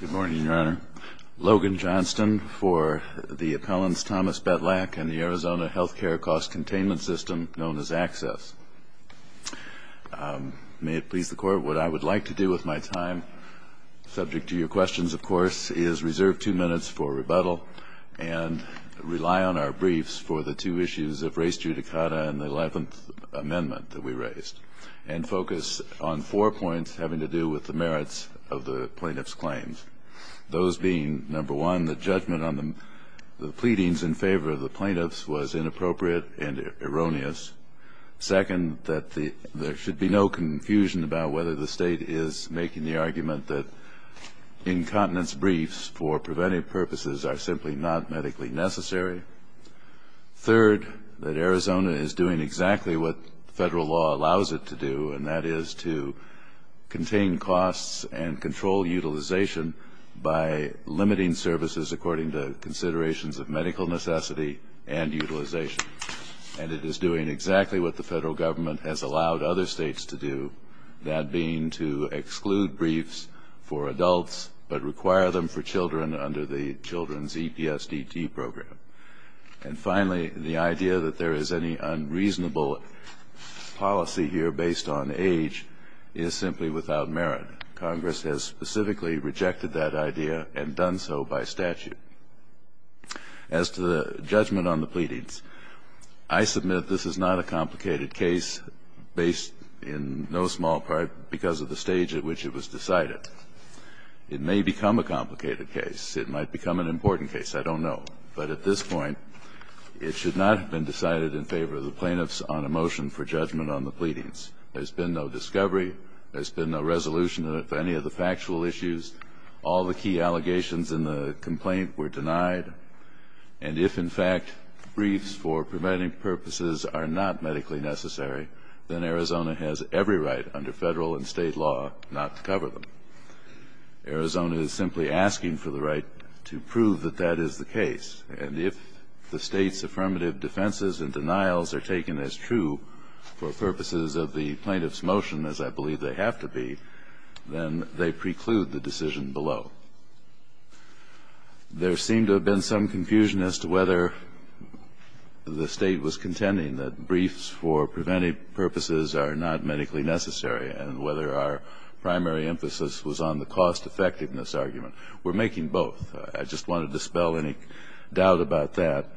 Good morning, Your Honor. Logan Johnston for the appellants Thomas Betlach and the Arizona Healthcare Cost Containment System, known as ACCESS. May it please the Court, what I would like to do with my time, subject to your questions of course, is reserve two minutes for rebuttal and rely on our briefs for the two issues of race judicata and the Eleventh Amendment that we raised and focus on four points having to do with the merits of the plaintiff's claims. Those being, number one, the judgment on the pleadings in favor of the plaintiffs was inappropriate and erroneous. Second, that there should be no confusion about whether the State is making the argument that incontinence briefs for preventive purposes are simply not medically necessary. Third, that Arizona is doing exactly what federal law allows it to do, and that is to contain costs and control utilization by limiting services according to considerations of medical necessity and utilization. And it is doing exactly what the federal government has allowed other states to do, that being to exclude briefs for adults but require them for children under the Children's EPSDT program. And finally, the idea that there is any unreasonable policy here based on age is simply without merit. Congress has specifically rejected that idea and done so by statute. As to the judgment on the pleadings, I submit this is not a complicated case based in no small part because of the stage at which it was decided. It may become a complicated case. It might become an important case. I don't know. But at this point, it should not have been decided in favor of the plaintiffs on a motion for judgment on the pleadings. There's been no discovery. There's been no resolution of any of the factual issues. All the key allegations in the complaint were denied. And if, in fact, briefs for preventive purposes are not medically necessary, then Arizona has every right under federal and state law not to cover them. Arizona is simply asking for the right to prove that that is the case. And if the State's affirmative defenses and denials are taken as true for purposes of the plaintiff's motion, as I believe they have to be, then they preclude the decision below. There seemed to have been some confusion as to whether the State was contending that briefs for preventive purposes are not medically necessary and whether our primary emphasis was on the cost-effectiveness argument. We're making both. I just want to dispel any doubt about that.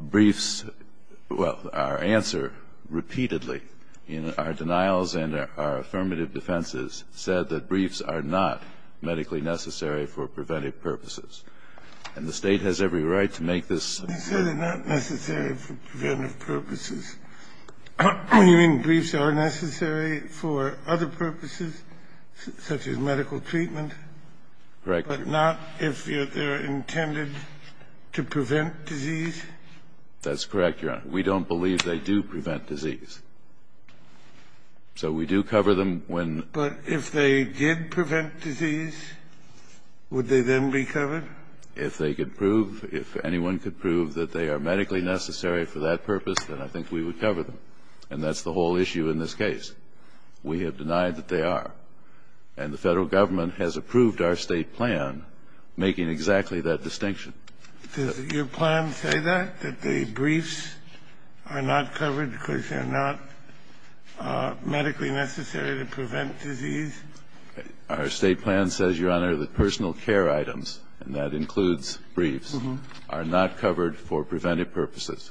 Briefs – well, our answer repeatedly in our denials and our affirmative defenses said that briefs are not medically necessary for preventive purposes. And the State has every right to make this clear. You said they're not necessary for preventive purposes. You mean briefs are necessary for other purposes, such as medical treatment? Correct. But not if they're intended to prevent disease? That's correct, Your Honor. We don't believe they do prevent disease. So we do cover them when – But if they did prevent disease, would they then be covered? If they could prove, if anyone could prove that they are medically necessary for that purpose, then I think we would cover them. And that's the whole issue in this case. We have denied that they are. And the Federal Government has approved our State plan making exactly that distinction. Does your plan say that, that the briefs are not covered because they're not medically necessary to prevent disease? Our State plan says, Your Honor, that personal care items, and that includes briefs, are not covered for preventive purposes.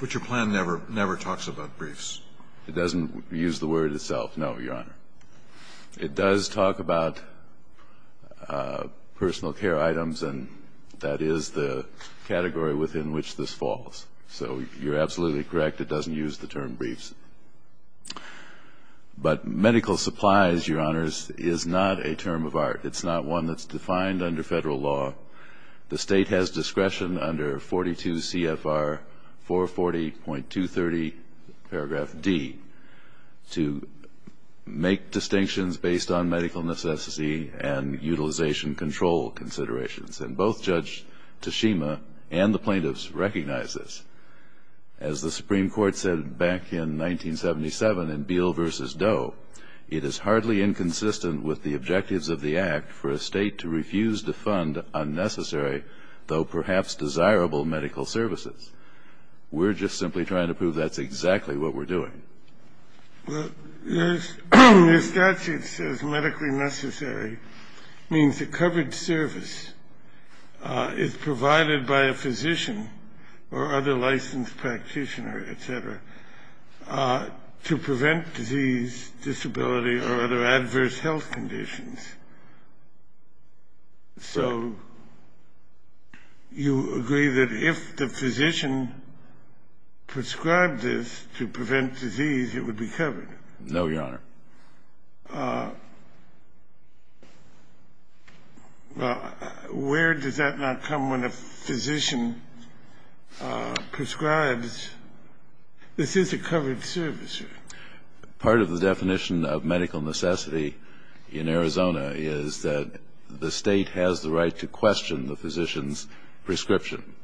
But your plan never talks about briefs. It doesn't use the word itself, no, Your Honor. It does talk about personal care items, and that is the category within which this falls. So you're absolutely correct. It doesn't use the term briefs. But medical supplies, Your Honors, is not a term of art. It's not one that's defined under Federal law. The State has discretion under 42 CFR 440.230, paragraph D, to make distinctions based on medical necessity and utilization control considerations. And both Judge Teshima and the plaintiffs recognize this. As the Supreme Court said back in 1977 in Beal v. Doe, it is hardly inconsistent with the objectives of the Act for a State to refuse to fund unnecessary, though perhaps desirable, medical services. We're just simply trying to prove that's exactly what we're doing. Well, your statute says medically necessary means a covered service is provided by a physician or other licensed practitioner, et cetera, to prevent disease, disability, or other adverse health conditions. So you agree that if the physician prescribed this to prevent disease, it would be covered? No, Your Honor. Well, where does that not come when a physician prescribes? This is a covered service. Part of the definition of medical necessity in Arizona is that the State has the right to question the physician's prescription,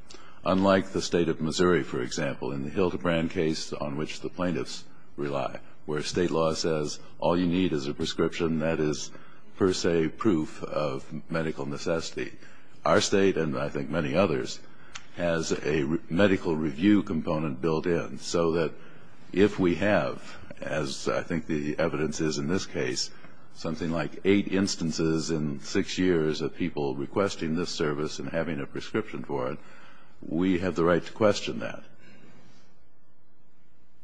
unlike the State of Missouri, for example, in the Hildebrand case on which the plaintiffs rely, where State law says all you need is a prescription that is per se proof of medical necessity. Our State, and I think many others, has a medical review component built in, so that if we have, as I think the evidence is in this case, something like eight instances in six years of people requesting this service and having a prescription for it, we have the right to question that.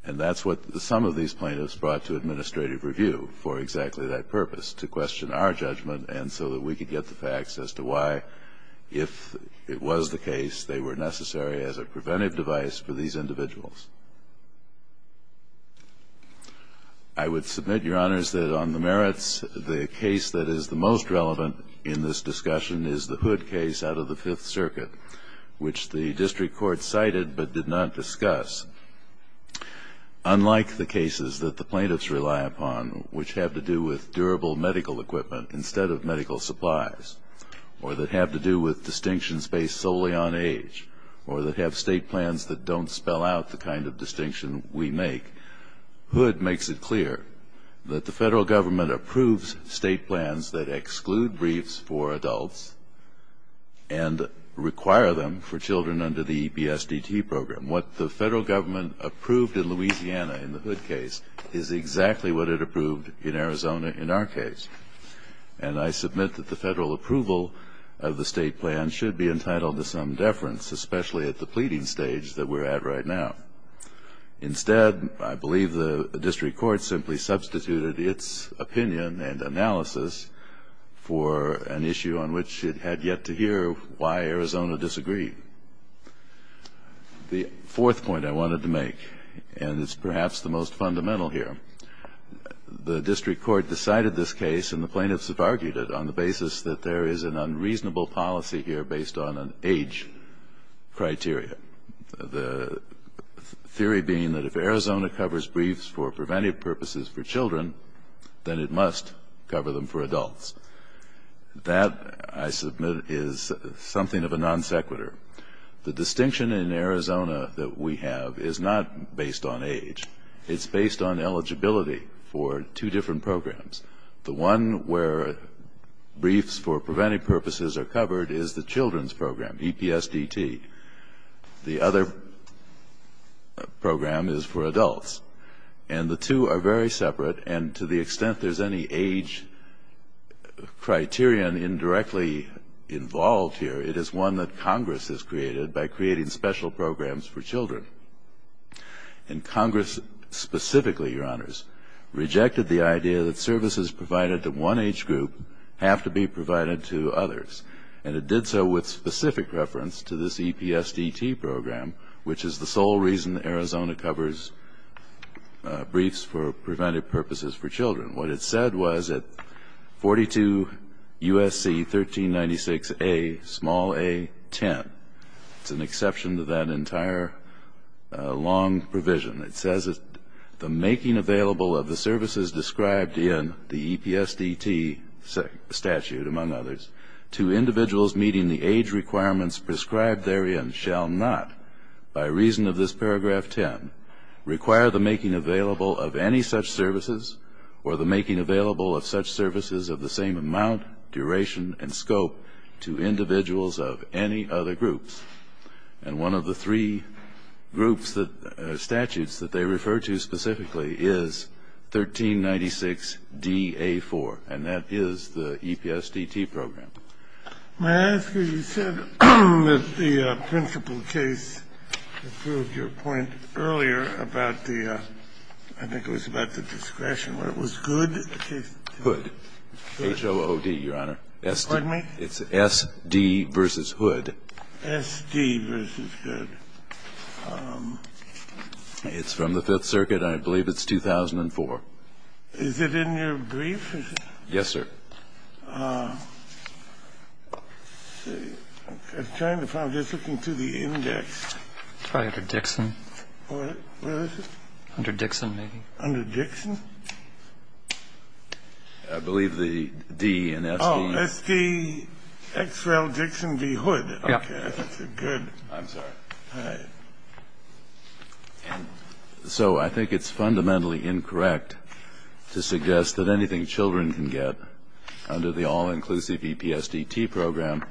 And that's what some of these plaintiffs brought to administrative review for exactly that purpose, to question our judgment and so that we could get the facts as to why, if it was the case, they were necessary as a preventive device for these individuals. I would submit, Your Honors, that on the merits, the case that is the most relevant in this discussion is the Hood case out of the Fifth Circuit, which the district court cited but did not discuss. Unlike the cases that the plaintiffs rely upon, which have to do with durable medical equipment instead of medical supplies, or that have to do with distinctions based solely on age, or that have State plans that don't spell out the kind of distinction we make, Hood makes it clear that the Federal Government approves State plans that exclude briefs for adults and require them for children under the BSDT program. What the Federal Government approved in Louisiana in the Hood case is exactly what it approved in Arizona in our case. And I submit that the Federal approval of the State plan should be entitled to some deference, especially at the pleading stage that we're at right now. Instead, I believe the district court simply substituted its opinion and analysis for an issue on which it had yet to hear why Arizona disagreed. The fourth point I wanted to make, and it's perhaps the most fundamental here, the district court decided this case, and the plaintiffs have argued it, on the basis that there is an unreasonable policy here based on an age criteria. The theory being that if Arizona covers briefs for preventive purposes for children, then it must cover them for adults. That, I submit, is something of a non sequitur. The distinction in Arizona that we have is not based on age. It's based on eligibility for two different programs. The one where briefs for preventive purposes are covered is the children's program, EPSDT. The other program is for adults. And the two are very separate. And to the extent there's any age criterion indirectly involved here, it is one that Congress has created by creating special programs for children. And Congress specifically, Your Honors, rejected the idea that services provided to one age group have to be provided to others. And it did so with specific reference to this EPSDT program, which is the sole reason Arizona covers briefs for preventive purposes for children. What it said was that 42 U.S.C. 1396A, small a, 10. It's an exception to that entire long provision. It says that the making available of the services described in the EPSDT statute, among others, to individuals meeting the age requirements prescribed therein shall not, by reason of this paragraph 10, require the making available of any such services or the making available of such services of the same amount, duration, and scope to individuals of any other groups. And one of the three groups, statutes, that they refer to specifically is 1396DA4. And that is the EPSDT program. May I ask you, you said that the principal case approved your point earlier about the ‑‑ I think it was about the discretion where it was good. Hood. H-O-O-D, Your Honor. Pardon me? It's S.D. v. Hood. S.D. v. Hood. It's from the Fifth Circuit. I believe it's 2004. Is it in your brief? Yes, sir. I'm trying to find it. I'm just looking through the index. It's probably under Dixon. What? Where is it? Under Dixon, maybe. Under Dixon? I believe the D in S.D. Oh, S.D. Xrel Dixon v. Hood. Okay. Good. I'm sorry. All right. So I think it's fundamentally incorrect to suggest that anything children can get under the all-inclusive EPSDT program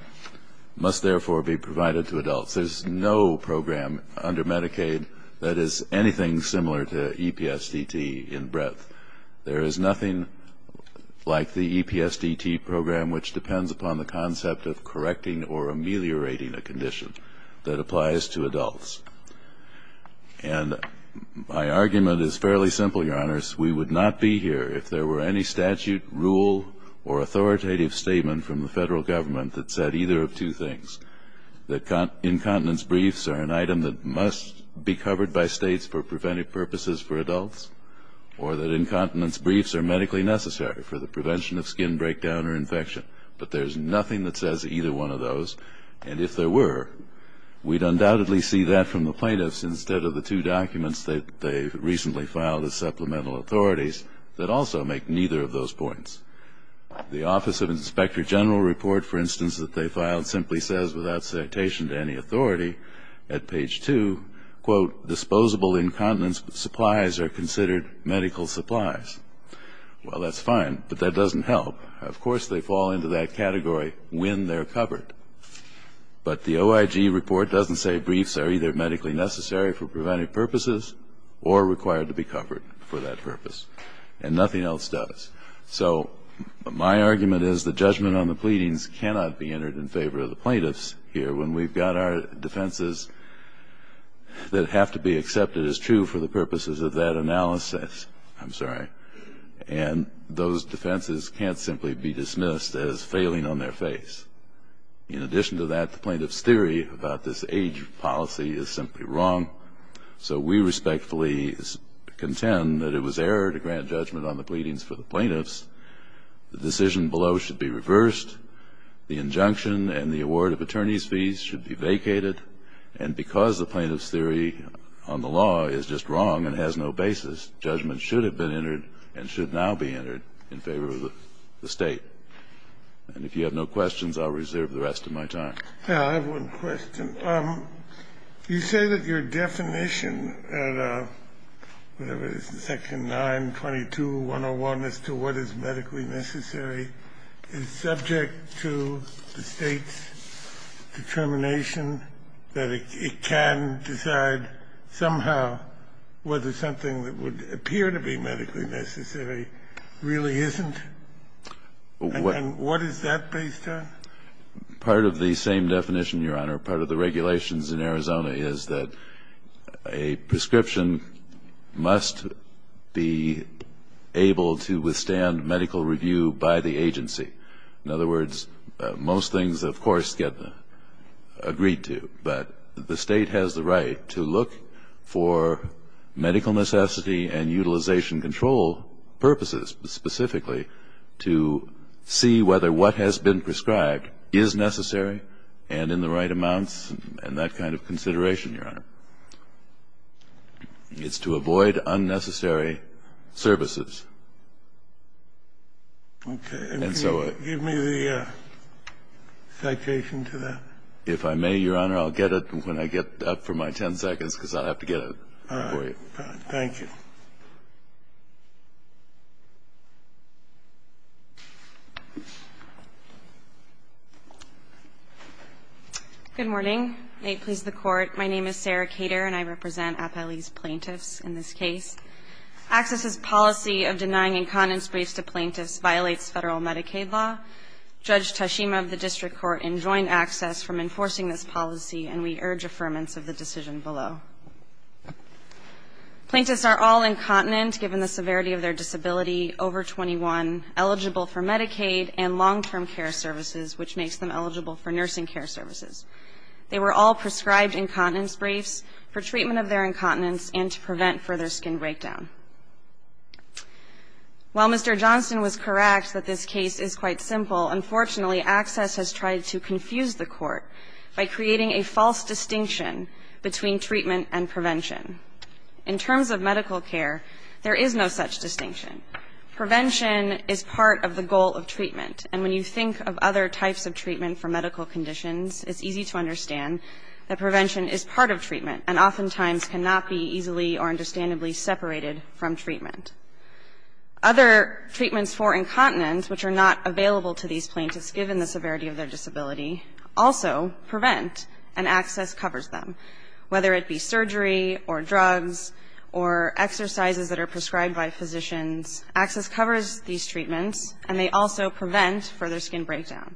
must therefore be provided to adults. There's no program under Medicaid that is anything similar to EPSDT in breadth. There is nothing like the EPSDT program, which depends upon the concept of correcting or ameliorating a condition that applies to adults. And my argument is fairly simple, Your Honors. We would not be here if there were any statute, rule, or authoritative statement from the federal government that said either of two things, that incontinence briefs are an item that must be covered by states for preventive purposes for adults or that incontinence briefs are medically necessary for the prevention of skin breakdown or infection. But there's nothing that says either one of those. And if there were, we'd undoubtedly see that from the plaintiffs instead of the two documents that they've recently filed as supplemental authorities that also make neither of those points. The Office of Inspector General report, for instance, that they filed simply says without citation to any authority at page 2, quote, disposable incontinence supplies are considered medical supplies. Well, that's fine, but that doesn't help. Of course, they fall into that category when they're covered. But the OIG report doesn't say briefs are either medically necessary for preventive purposes or required to be covered for that purpose. And nothing else does. So my argument is the judgment on the pleadings cannot be entered in favor of the plaintiffs here when we've got our defenses that have to be accepted as true for the purposes of that analysis. I'm sorry. And those defenses can't simply be dismissed as failing on their face. In addition to that, the plaintiff's theory about this age policy is simply wrong. So we respectfully contend that it was error to grant judgment on the pleadings for the plaintiffs. The decision below should be reversed. The injunction and the award of attorney's fees should be vacated. And because the plaintiff's theory on the law is just wrong and has no basis, judgment should have been entered and should now be entered in favor of the State. And if you have no questions, I'll reserve the rest of my time. I have one question. You say that your definition, whatever it is, Section 922-101 as to what is medically necessary, is subject to the State's determination that it can decide somehow whether something that would appear to be medically necessary really isn't. And what is that based on? Part of the same definition, Your Honor. Part of the regulations in Arizona is that a prescription must be able to withstand medical review by the agency. In other words, most things, of course, get agreed to. But the State has the right to look for medical necessity and utilization control purposes specifically to see whether what has been prescribed is necessary and in the right amounts and that kind of consideration, Your Honor. It's to avoid unnecessary services. Okay. And so I... Can you give me the citation to that? If I may, Your Honor, I'll get it when I get up for my ten seconds, because I'll have to get it for you. All right. Thank you. Good morning. May it please the Court. My name is Sarah Kater, and I represent Appellee's plaintiffs in this case. Access's policy of denying incontinence briefs to plaintiffs violates Federal Medicaid law. Judge Tashima of the district court enjoined access from enforcing this policy, and we urge affirmance of the decision below. Plaintiffs are all incontinent, given the severity of their disability, over 21, eligible for Medicaid and long-term care services, which makes them eligible for nursing care services. They were all prescribed incontinence briefs for treatment of their incontinence and to prevent further skin breakdown. While Mr. Johnston was correct that this case is quite simple, unfortunately, Access has tried to confuse the Court by creating a false distinction between treatment and prevention. In terms of medical care, there is no such distinction. Prevention is part of the goal of treatment, and when you think of other types of treatment for medical conditions, it's easy to understand that prevention is part of treatment and oftentimes cannot be easily or understandably separated from treatment. Other treatments for incontinence, which are not available to these plaintiffs given the severity of their disability, also prevent, and Access covers them, whether it be surgery or drugs or exercises that are prescribed by physicians. Access covers these treatments, and they also prevent further skin breakdown.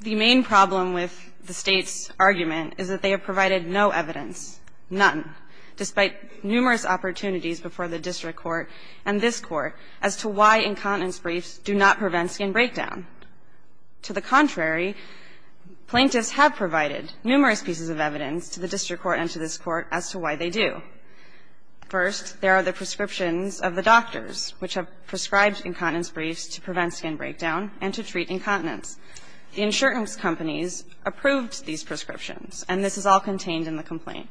The main problem with the State's argument is that they have provided no evidence, none, despite numerous opportunities before the district court and this court as to why incontinence briefs do not prevent skin breakdown. To the contrary, plaintiffs have provided numerous pieces of evidence to the district court and to this court as to why they do. First, there are the prescriptions of the doctors which have prescribed incontinence briefs to prevent skin breakdown and to treat incontinence. The insurance companies approved these prescriptions, and this is all contained in the complaint.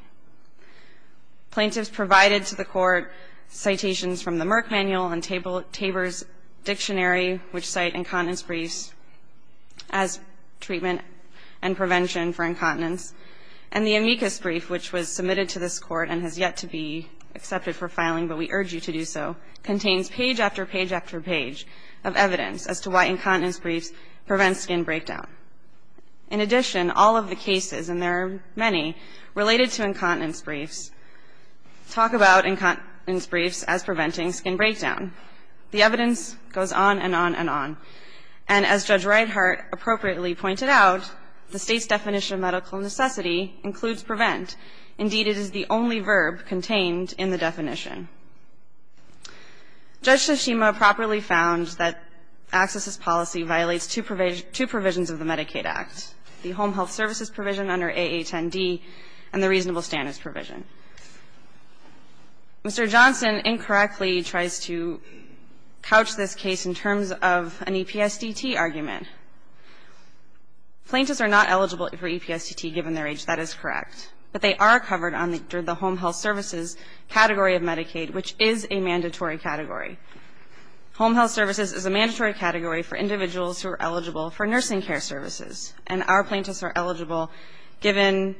Plaintiffs provided to the Court citations from the Merck Manual and Tabor's dictionary which cite incontinence briefs as treatment and prevention for incontinence. And the amicus brief which was submitted to this court and has yet to be accepted for filing, but we urge you to do so, contains page after page after page of evidence as to why incontinence briefs prevent skin breakdown. In addition, all of the cases, and there are many, related to incontinence briefs talk about incontinence briefs as preventing skin breakdown. The evidence goes on and on and on. And as Judge Reithart appropriately pointed out, the State's definition of medical necessity includes prevent. Indeed, it is the only verb contained in the definition. Judge Tsushima properly found that accesses policy violates two provisions of the Medicaid Act, the Home Health Services provision under AA10D and the reasonable standards provision. Mr. Johnson incorrectly tries to couch this case in terms of an EPSDT argument. Plaintiffs are not eligible for EPSDT given their age. That is correct. But they are covered under the Home Health Services category of Medicaid, which is a mandatory category. Home Health Services is a mandatory category for individuals who are eligible for nursing care services. And our plaintiffs are eligible given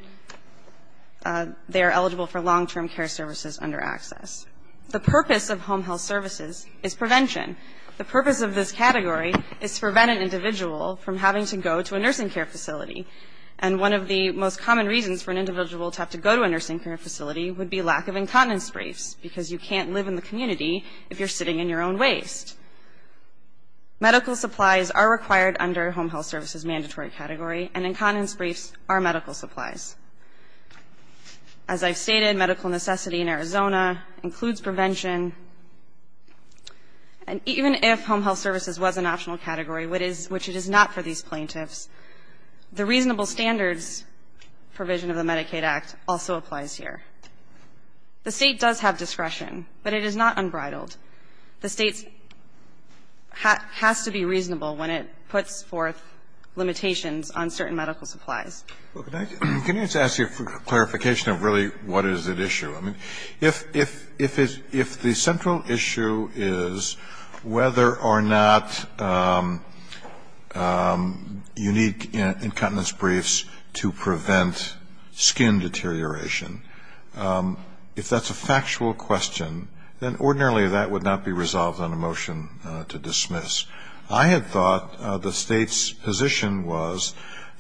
they are eligible for long-term care services under access. The purpose of Home Health Services is prevention. The purpose of this category is to prevent an individual from having to go to a nursing care facility. And one of the most common reasons for an individual to have to go to a nursing care facility would be lack of incontinence briefs because you can't live in the community if you're sitting in your own waste. Medical supplies are required under Home Health Services' mandatory category and incontinence briefs are medical supplies. As I've stated, medical necessity in Arizona includes prevention. And even if Home Health Services was an optional category, which it is not for these plaintiffs, the reasonable standards provision of the Medicaid Act also applies here. The State does have discretion, but it is not unbridled. The State has to be reasonable when it puts forth limitations on certain medical supplies. Can I just ask you for clarification of really what is at issue? I mean, if the central issue is whether or not you need incontinence briefs to prevent skin deterioration, if that's a factual question, then ordinarily that would not be resolved on a motion to dismiss. I had thought the State's position was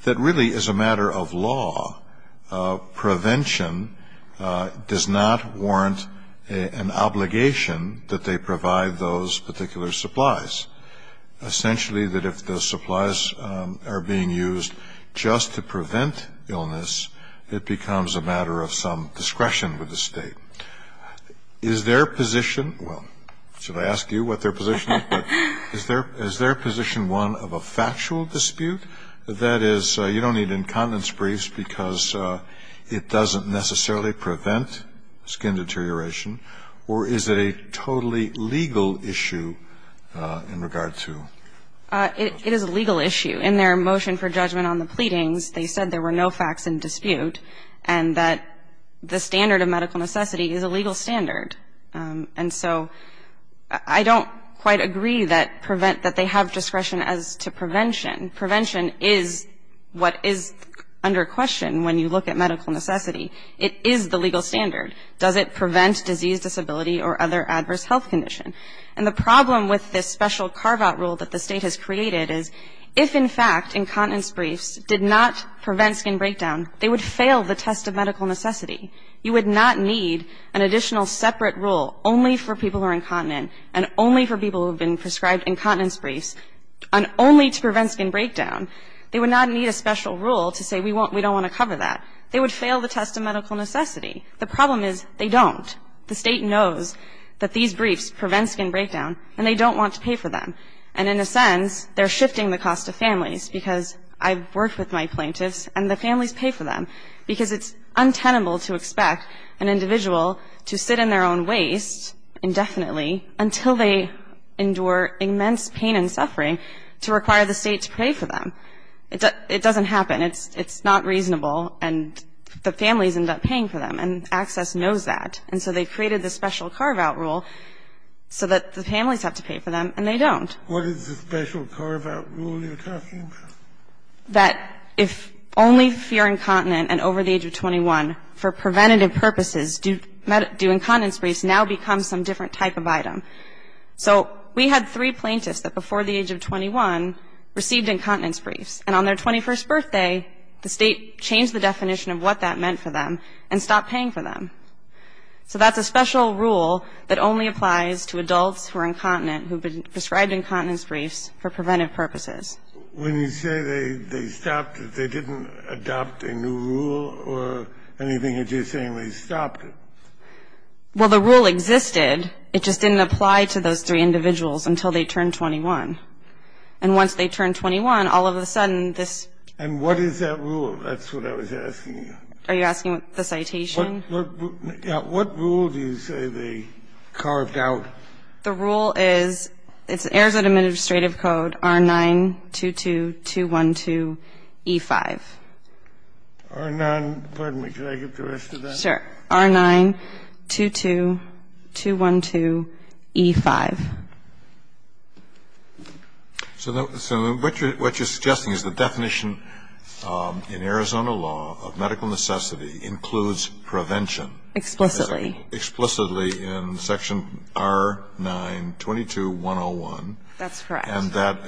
that really as a matter of law, prevention does not warrant an obligation that they provide those particular supplies. Essentially that if the supplies are being used just to prevent illness, it becomes a matter of some discretion with the State. Is their position, well, should I ask you what their position is? But is their position one of a factual dispute? That is, you don't need incontinence briefs because it doesn't necessarily prevent skin deterioration? Or is it a totally legal issue in regard to? It is a legal issue. In their motion for judgment on the pleadings, they said there were no facts in dispute and that the standard of medical necessity is a legal standard. And so I don't quite agree that they have discretion as to prevention. Prevention is what is under question when you look at medical necessity. It is the legal standard. Does it prevent disease, disability or other adverse health condition? And the problem with this special carve-out rule that the State has created is if, in fact, incontinence briefs did not prevent skin breakdown, they would fail the test of medical necessity. You would not need an additional separate rule only for people who are incontinent and only for people who have been prescribed incontinence briefs and only to prevent skin breakdown. They would not need a special rule to say we don't want to cover that. They would fail the test of medical necessity. The problem is they don't. The State knows that these briefs prevent skin breakdown and they don't want to pay for them. And in a sense, they're shifting the cost to families because I've worked with my plaintiffs and the families pay for them because it's untenable to expect an individual to sit in their own waste indefinitely until they endure immense pain and suffering to require the State to pay for them. It doesn't happen. It's not reasonable and the families end up paying for them and Access knows that. And so they created the special carve-out rule so that the families have to pay for them and they don't. Kennedy, what is the special carve-out rule you're talking about? That if only if you're incontinent and over the age of 21, for preventative purposes, do incontinence briefs now become some different type of item. So we had three plaintiffs that before the age of 21 received incontinence briefs and on their 21st birthday, the State changed the definition of what that meant for them and stopped paying for them. So that's a special rule that only applies to adults who are incontinent who have been prescribed incontinence briefs for preventative purposes. When you say they stopped it, they didn't adopt a new rule or anything? You're just saying they stopped it. Well, the rule existed. It just didn't apply to those three individuals until they turned 21. And once they turned 21, all of a sudden, this ---- And what is that rule? That's what I was asking you. Are you asking the citation? What rule do you say they carved out? The rule is, it's Arizona Administrative Code, R922212E5. R9 ---- pardon me. Can I get the rest of that? Sure. R922212E5. So what you're suggesting is the definition in Arizona law of medical necessity includes prevention. Explicitly. Explicitly in Section R922101. That's correct. And that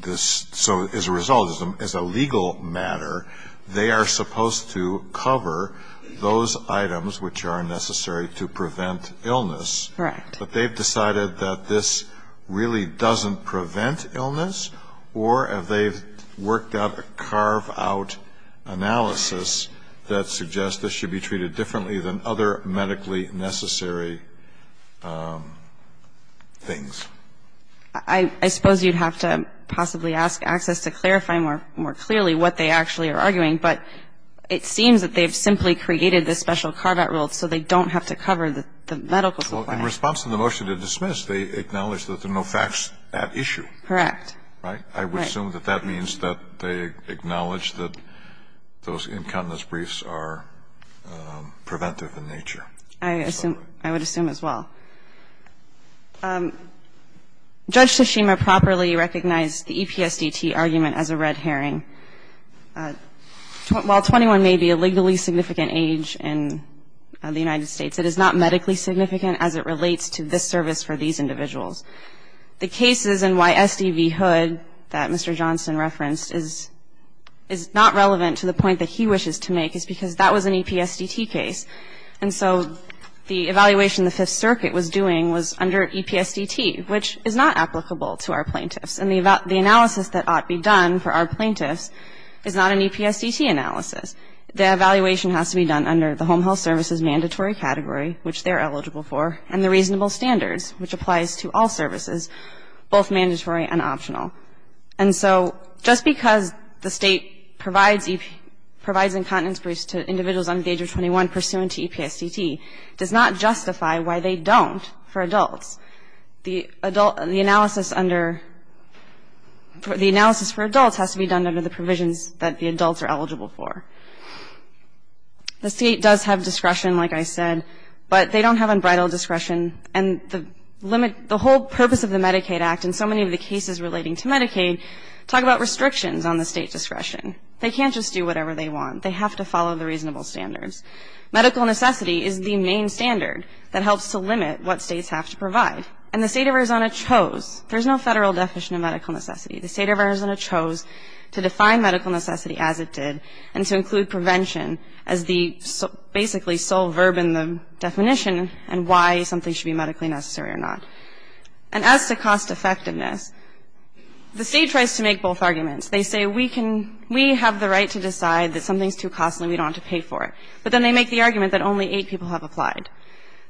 this ---- so as a result, as a legal matter, they are supposed to cover those items which are necessary to prevent illness. Correct. But they've decided that this really doesn't prevent illness, or they've worked out a carve-out analysis that suggests this should be treated differently than other medically necessary things. I suppose you'd have to possibly ask ACCESS to clarify more clearly what they actually are arguing. But it seems that they've simply created this special carve-out rule so they don't have to cover the medical supply. Well, in response to the motion to dismiss, they acknowledge that there are no facts at issue. Correct. Right? Right. I would assume that that means that they acknowledge that those incontinence briefs are preventive in nature. I assume ---- I would assume as well. Judge Tsushima properly recognized the EPSDT argument as a red herring. While 21 may be a legally significant age in the United States, it is not medically significant as it relates to this service for these individuals. The cases in why SDV Hood, that Mr. Johnson referenced, is not relevant to the point that he wishes to make is because that was an EPSDT case. And so the evaluation the Fifth Circuit was doing was under EPSDT, which is not applicable to our plaintiffs. And the analysis that ought to be done for our plaintiffs is not an EPSDT analysis. The evaluation has to be done under the Home Health Service's mandatory category, which they're eligible for, and the reasonable standards, which applies to all services, both mandatory and optional. And so just because the state provides incontinence briefs to individuals under the age of 21 pursuant to EPSDT does not justify why they don't for adults. The analysis for adults has to be done under the provisions that the adults are eligible for. The state does have discretion, like I said, but they don't have unbridled discretion. And the whole purpose of the Medicaid Act and so many of the cases relating to Medicaid talk about restrictions on the state's discretion. They can't just do whatever they want. They have to follow the reasonable standards. Medical necessity is the main standard that helps to limit what states have to provide. And the state of Arizona chose. There's no federal definition of medical necessity. The state of Arizona chose to define medical necessity as it did and to include prevention as the basically sole verb in the definition and why something should be medically necessary or not. And as to cost effectiveness, the state tries to make both arguments. They say we have the right to decide that something's too costly and we don't want to pay for it. But then they make the argument that only eight people have applied.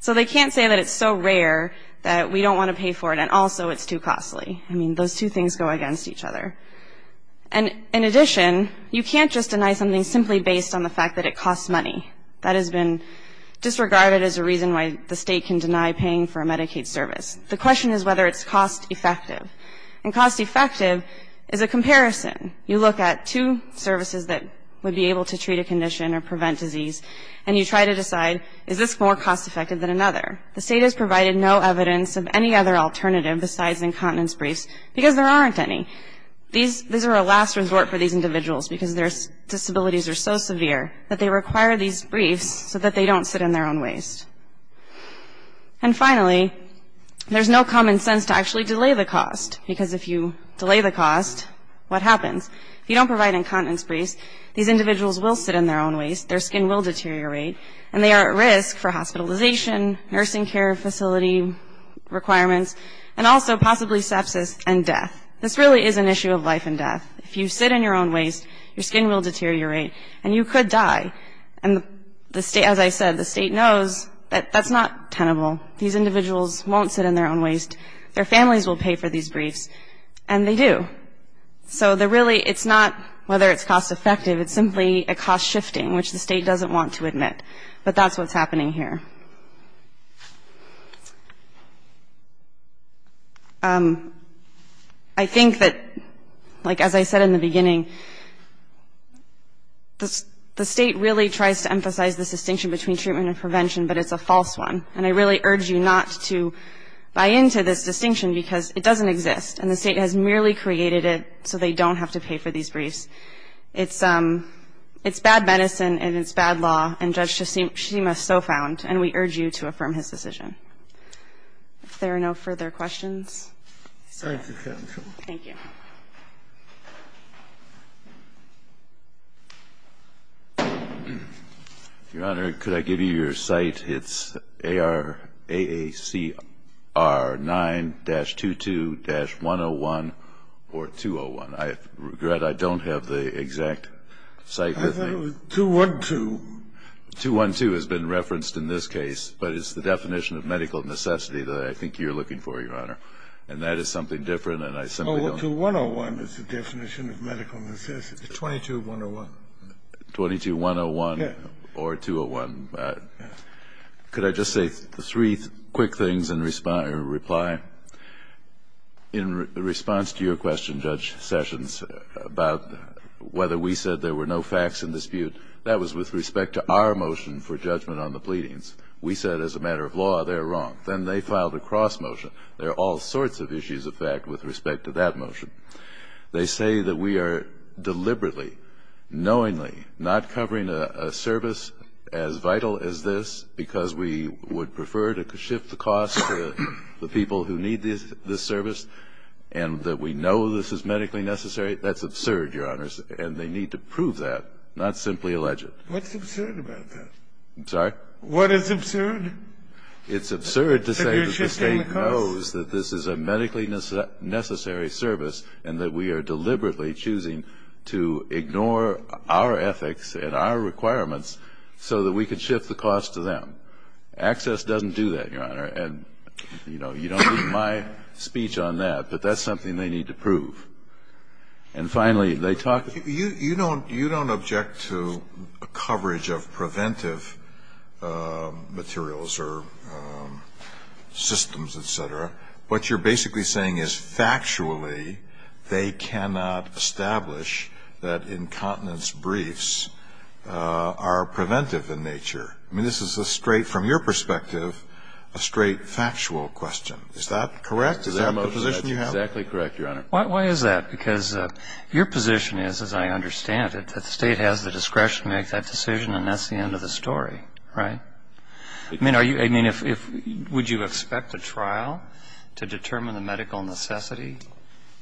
So they can't say that it's so rare that we don't want to pay for it and also it's too costly. I mean, those two things go against each other. And in addition, you can't just deny something simply based on the fact that it costs money. That has been disregarded as a reason why the state can deny paying for a Medicaid service. The question is whether it's cost effective. And cost effective is a comparison. You look at two services that would be able to treat a condition or prevent disease and you try to decide is this more cost effective than another. The state has provided no evidence of any other alternative besides incontinence briefs because there aren't any. These are a last resort for these individuals because their disabilities are so severe that they require these briefs so that they don't sit in their own waste. And finally, there's no common sense to actually delay the cost because if you delay the cost, what happens? If you don't provide incontinence briefs, these individuals will sit in their own waste, their skin will deteriorate, and they are at risk for hospitalization, nursing care facility requirements, and also possibly sepsis and death. This really is an issue of life and death. If you sit in your own waste, your skin will deteriorate and you could die. And as I said, the state knows that that's not tenable. These individuals won't sit in their own waste. Their families will pay for these briefs, and they do. So really it's not whether it's cost effective. It's simply a cost shifting, which the state doesn't want to admit. But that's what's happening here. I think that, like as I said in the beginning, the state really tries to emphasize this distinction between treatment and prevention, but it's a false one. And I really urge you not to buy into this distinction because it doesn't exist, and the state has merely created it so they don't have to pay for these briefs. It's bad medicine and it's bad law, and Judge Shishima so found, and we urge you to affirm his decision. If there are no further questions. Thank you. Your Honor, could I give you your cite? It's AACR 9-22-101 or 201. I regret I don't have the exact cite with me. I thought it was 212. 212 has been referenced in this case, but it's the definition of medical necessity that I think you're looking for, Your Honor. And that is something different, and I simply don't know. 2101 is the definition of medical necessity, 22-101. 22-101 or 201. Could I just say three quick things in reply? In response to your question, Judge Sessions, about whether we said there were no facts in dispute, that was with respect to our motion for judgment on the pleadings. We said as a matter of law they're wrong. Then they filed a cross motion. There are all sorts of issues of fact with respect to that motion. They say that we are deliberately, knowingly not covering a service as vital as this because we would prefer to shift the cost to the people who need this service and that we know this is medically necessary. That's absurd, Your Honors, and they need to prove that, not simply allege it. What's absurd about that? I'm sorry? What is absurd? It's absurd to say that the State knows that this is a medically necessary service and that we are deliberately choosing to ignore our ethics and our requirements so that we could shift the cost to them. Access doesn't do that, Your Honor, and, you know, you don't need my speech on that, but that's something they need to prove. And finally, they talk to you. You don't object to coverage of preventive materials or systems, et cetera. What you're basically saying is factually they cannot establish that incontinence briefs are preventive in nature. I mean, this is a straight, from your perspective, a straight factual question. Is that correct? Is that the position you have? That's exactly correct, Your Honor. Why is that? Because your position is, as I understand it, that the State has the discretion to make that decision and that's the end of the story, right? I mean, would you expect a trial to determine the medical necessity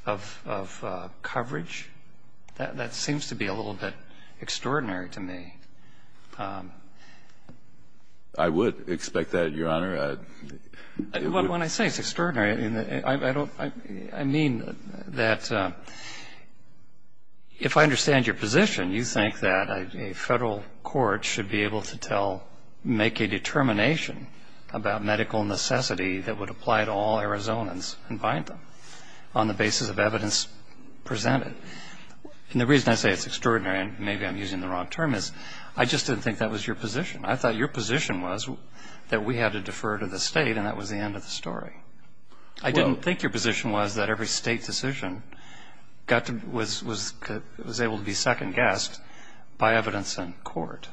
of coverage? That seems to be a little bit extraordinary to me. I would expect that, Your Honor. When I say it's extraordinary, I mean that if I understand your position, you think that a Federal court should be able to tell, make a determination about medical necessity that would apply to all Arizonans and bind them on the basis of evidence presented. And the reason I say it's extraordinary, and maybe I'm using the wrong term, is I just didn't think that was your position. I thought your position was that we had to defer to the State and that was the end of the story. I didn't think your position was that every State decision was able to be second guessed by evidence in court.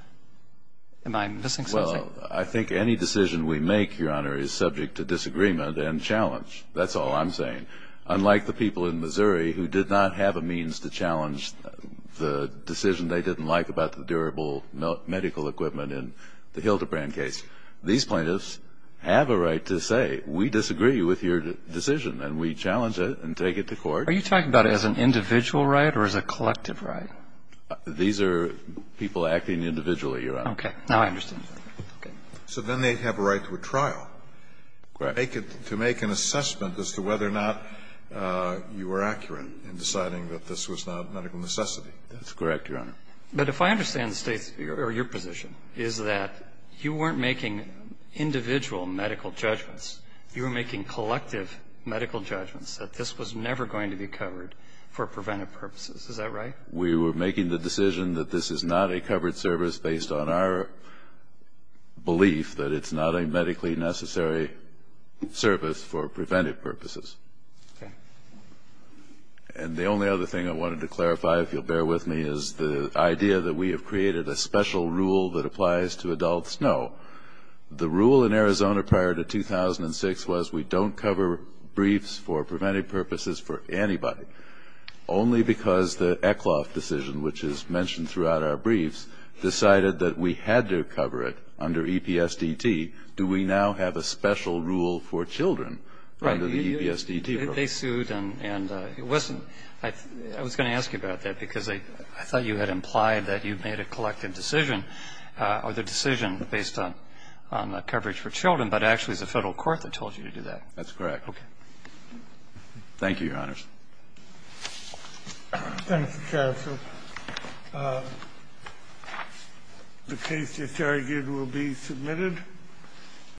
Am I missing something? Well, I think any decision we make, Your Honor, is subject to disagreement and challenge. That's all I'm saying. Unlike the people in Missouri who did not have a means to challenge the decision they didn't like about the durable medical equipment in the Hildebrand case, these plaintiffs have a right to say we disagree with your decision and we challenge it and take it to court. Are you talking about it as an individual right or as a collective right? These are people acting individually, Your Honor. Okay. Now I understand. So then they have a right to a trial. Correct. To make an assessment as to whether or not you were accurate in deciding that this was not medical necessity. That's correct, Your Honor. But if I understand the State's or your position, is that you weren't making individual medical judgments. You were making collective medical judgments that this was never going to be covered for preventive purposes. Is that right? We were making the decision that this is not a covered service based on our belief that it's not a medically necessary service for preventive purposes. Okay. And the only other thing I wanted to clarify, if you'll bear with me, is the idea that we have created a special rule that applies to adults. No. The rule in Arizona prior to 2006 was we don't cover briefs for preventive purposes for anybody, only because the Eklof decision, which is mentioned throughout our briefs, decided that we had to cover it under EPSDT. Do we now have a special rule for children under the EPSDT rule? Right. They sued and it wasn't – I was going to ask you about that because I thought you had implied that you made a collective decision or the decision based on coverage for children, but actually it's the Federal court that told you to do that. That's correct. Thank you, Your Honors. Thank you, counsel. The case disargued will be submitted.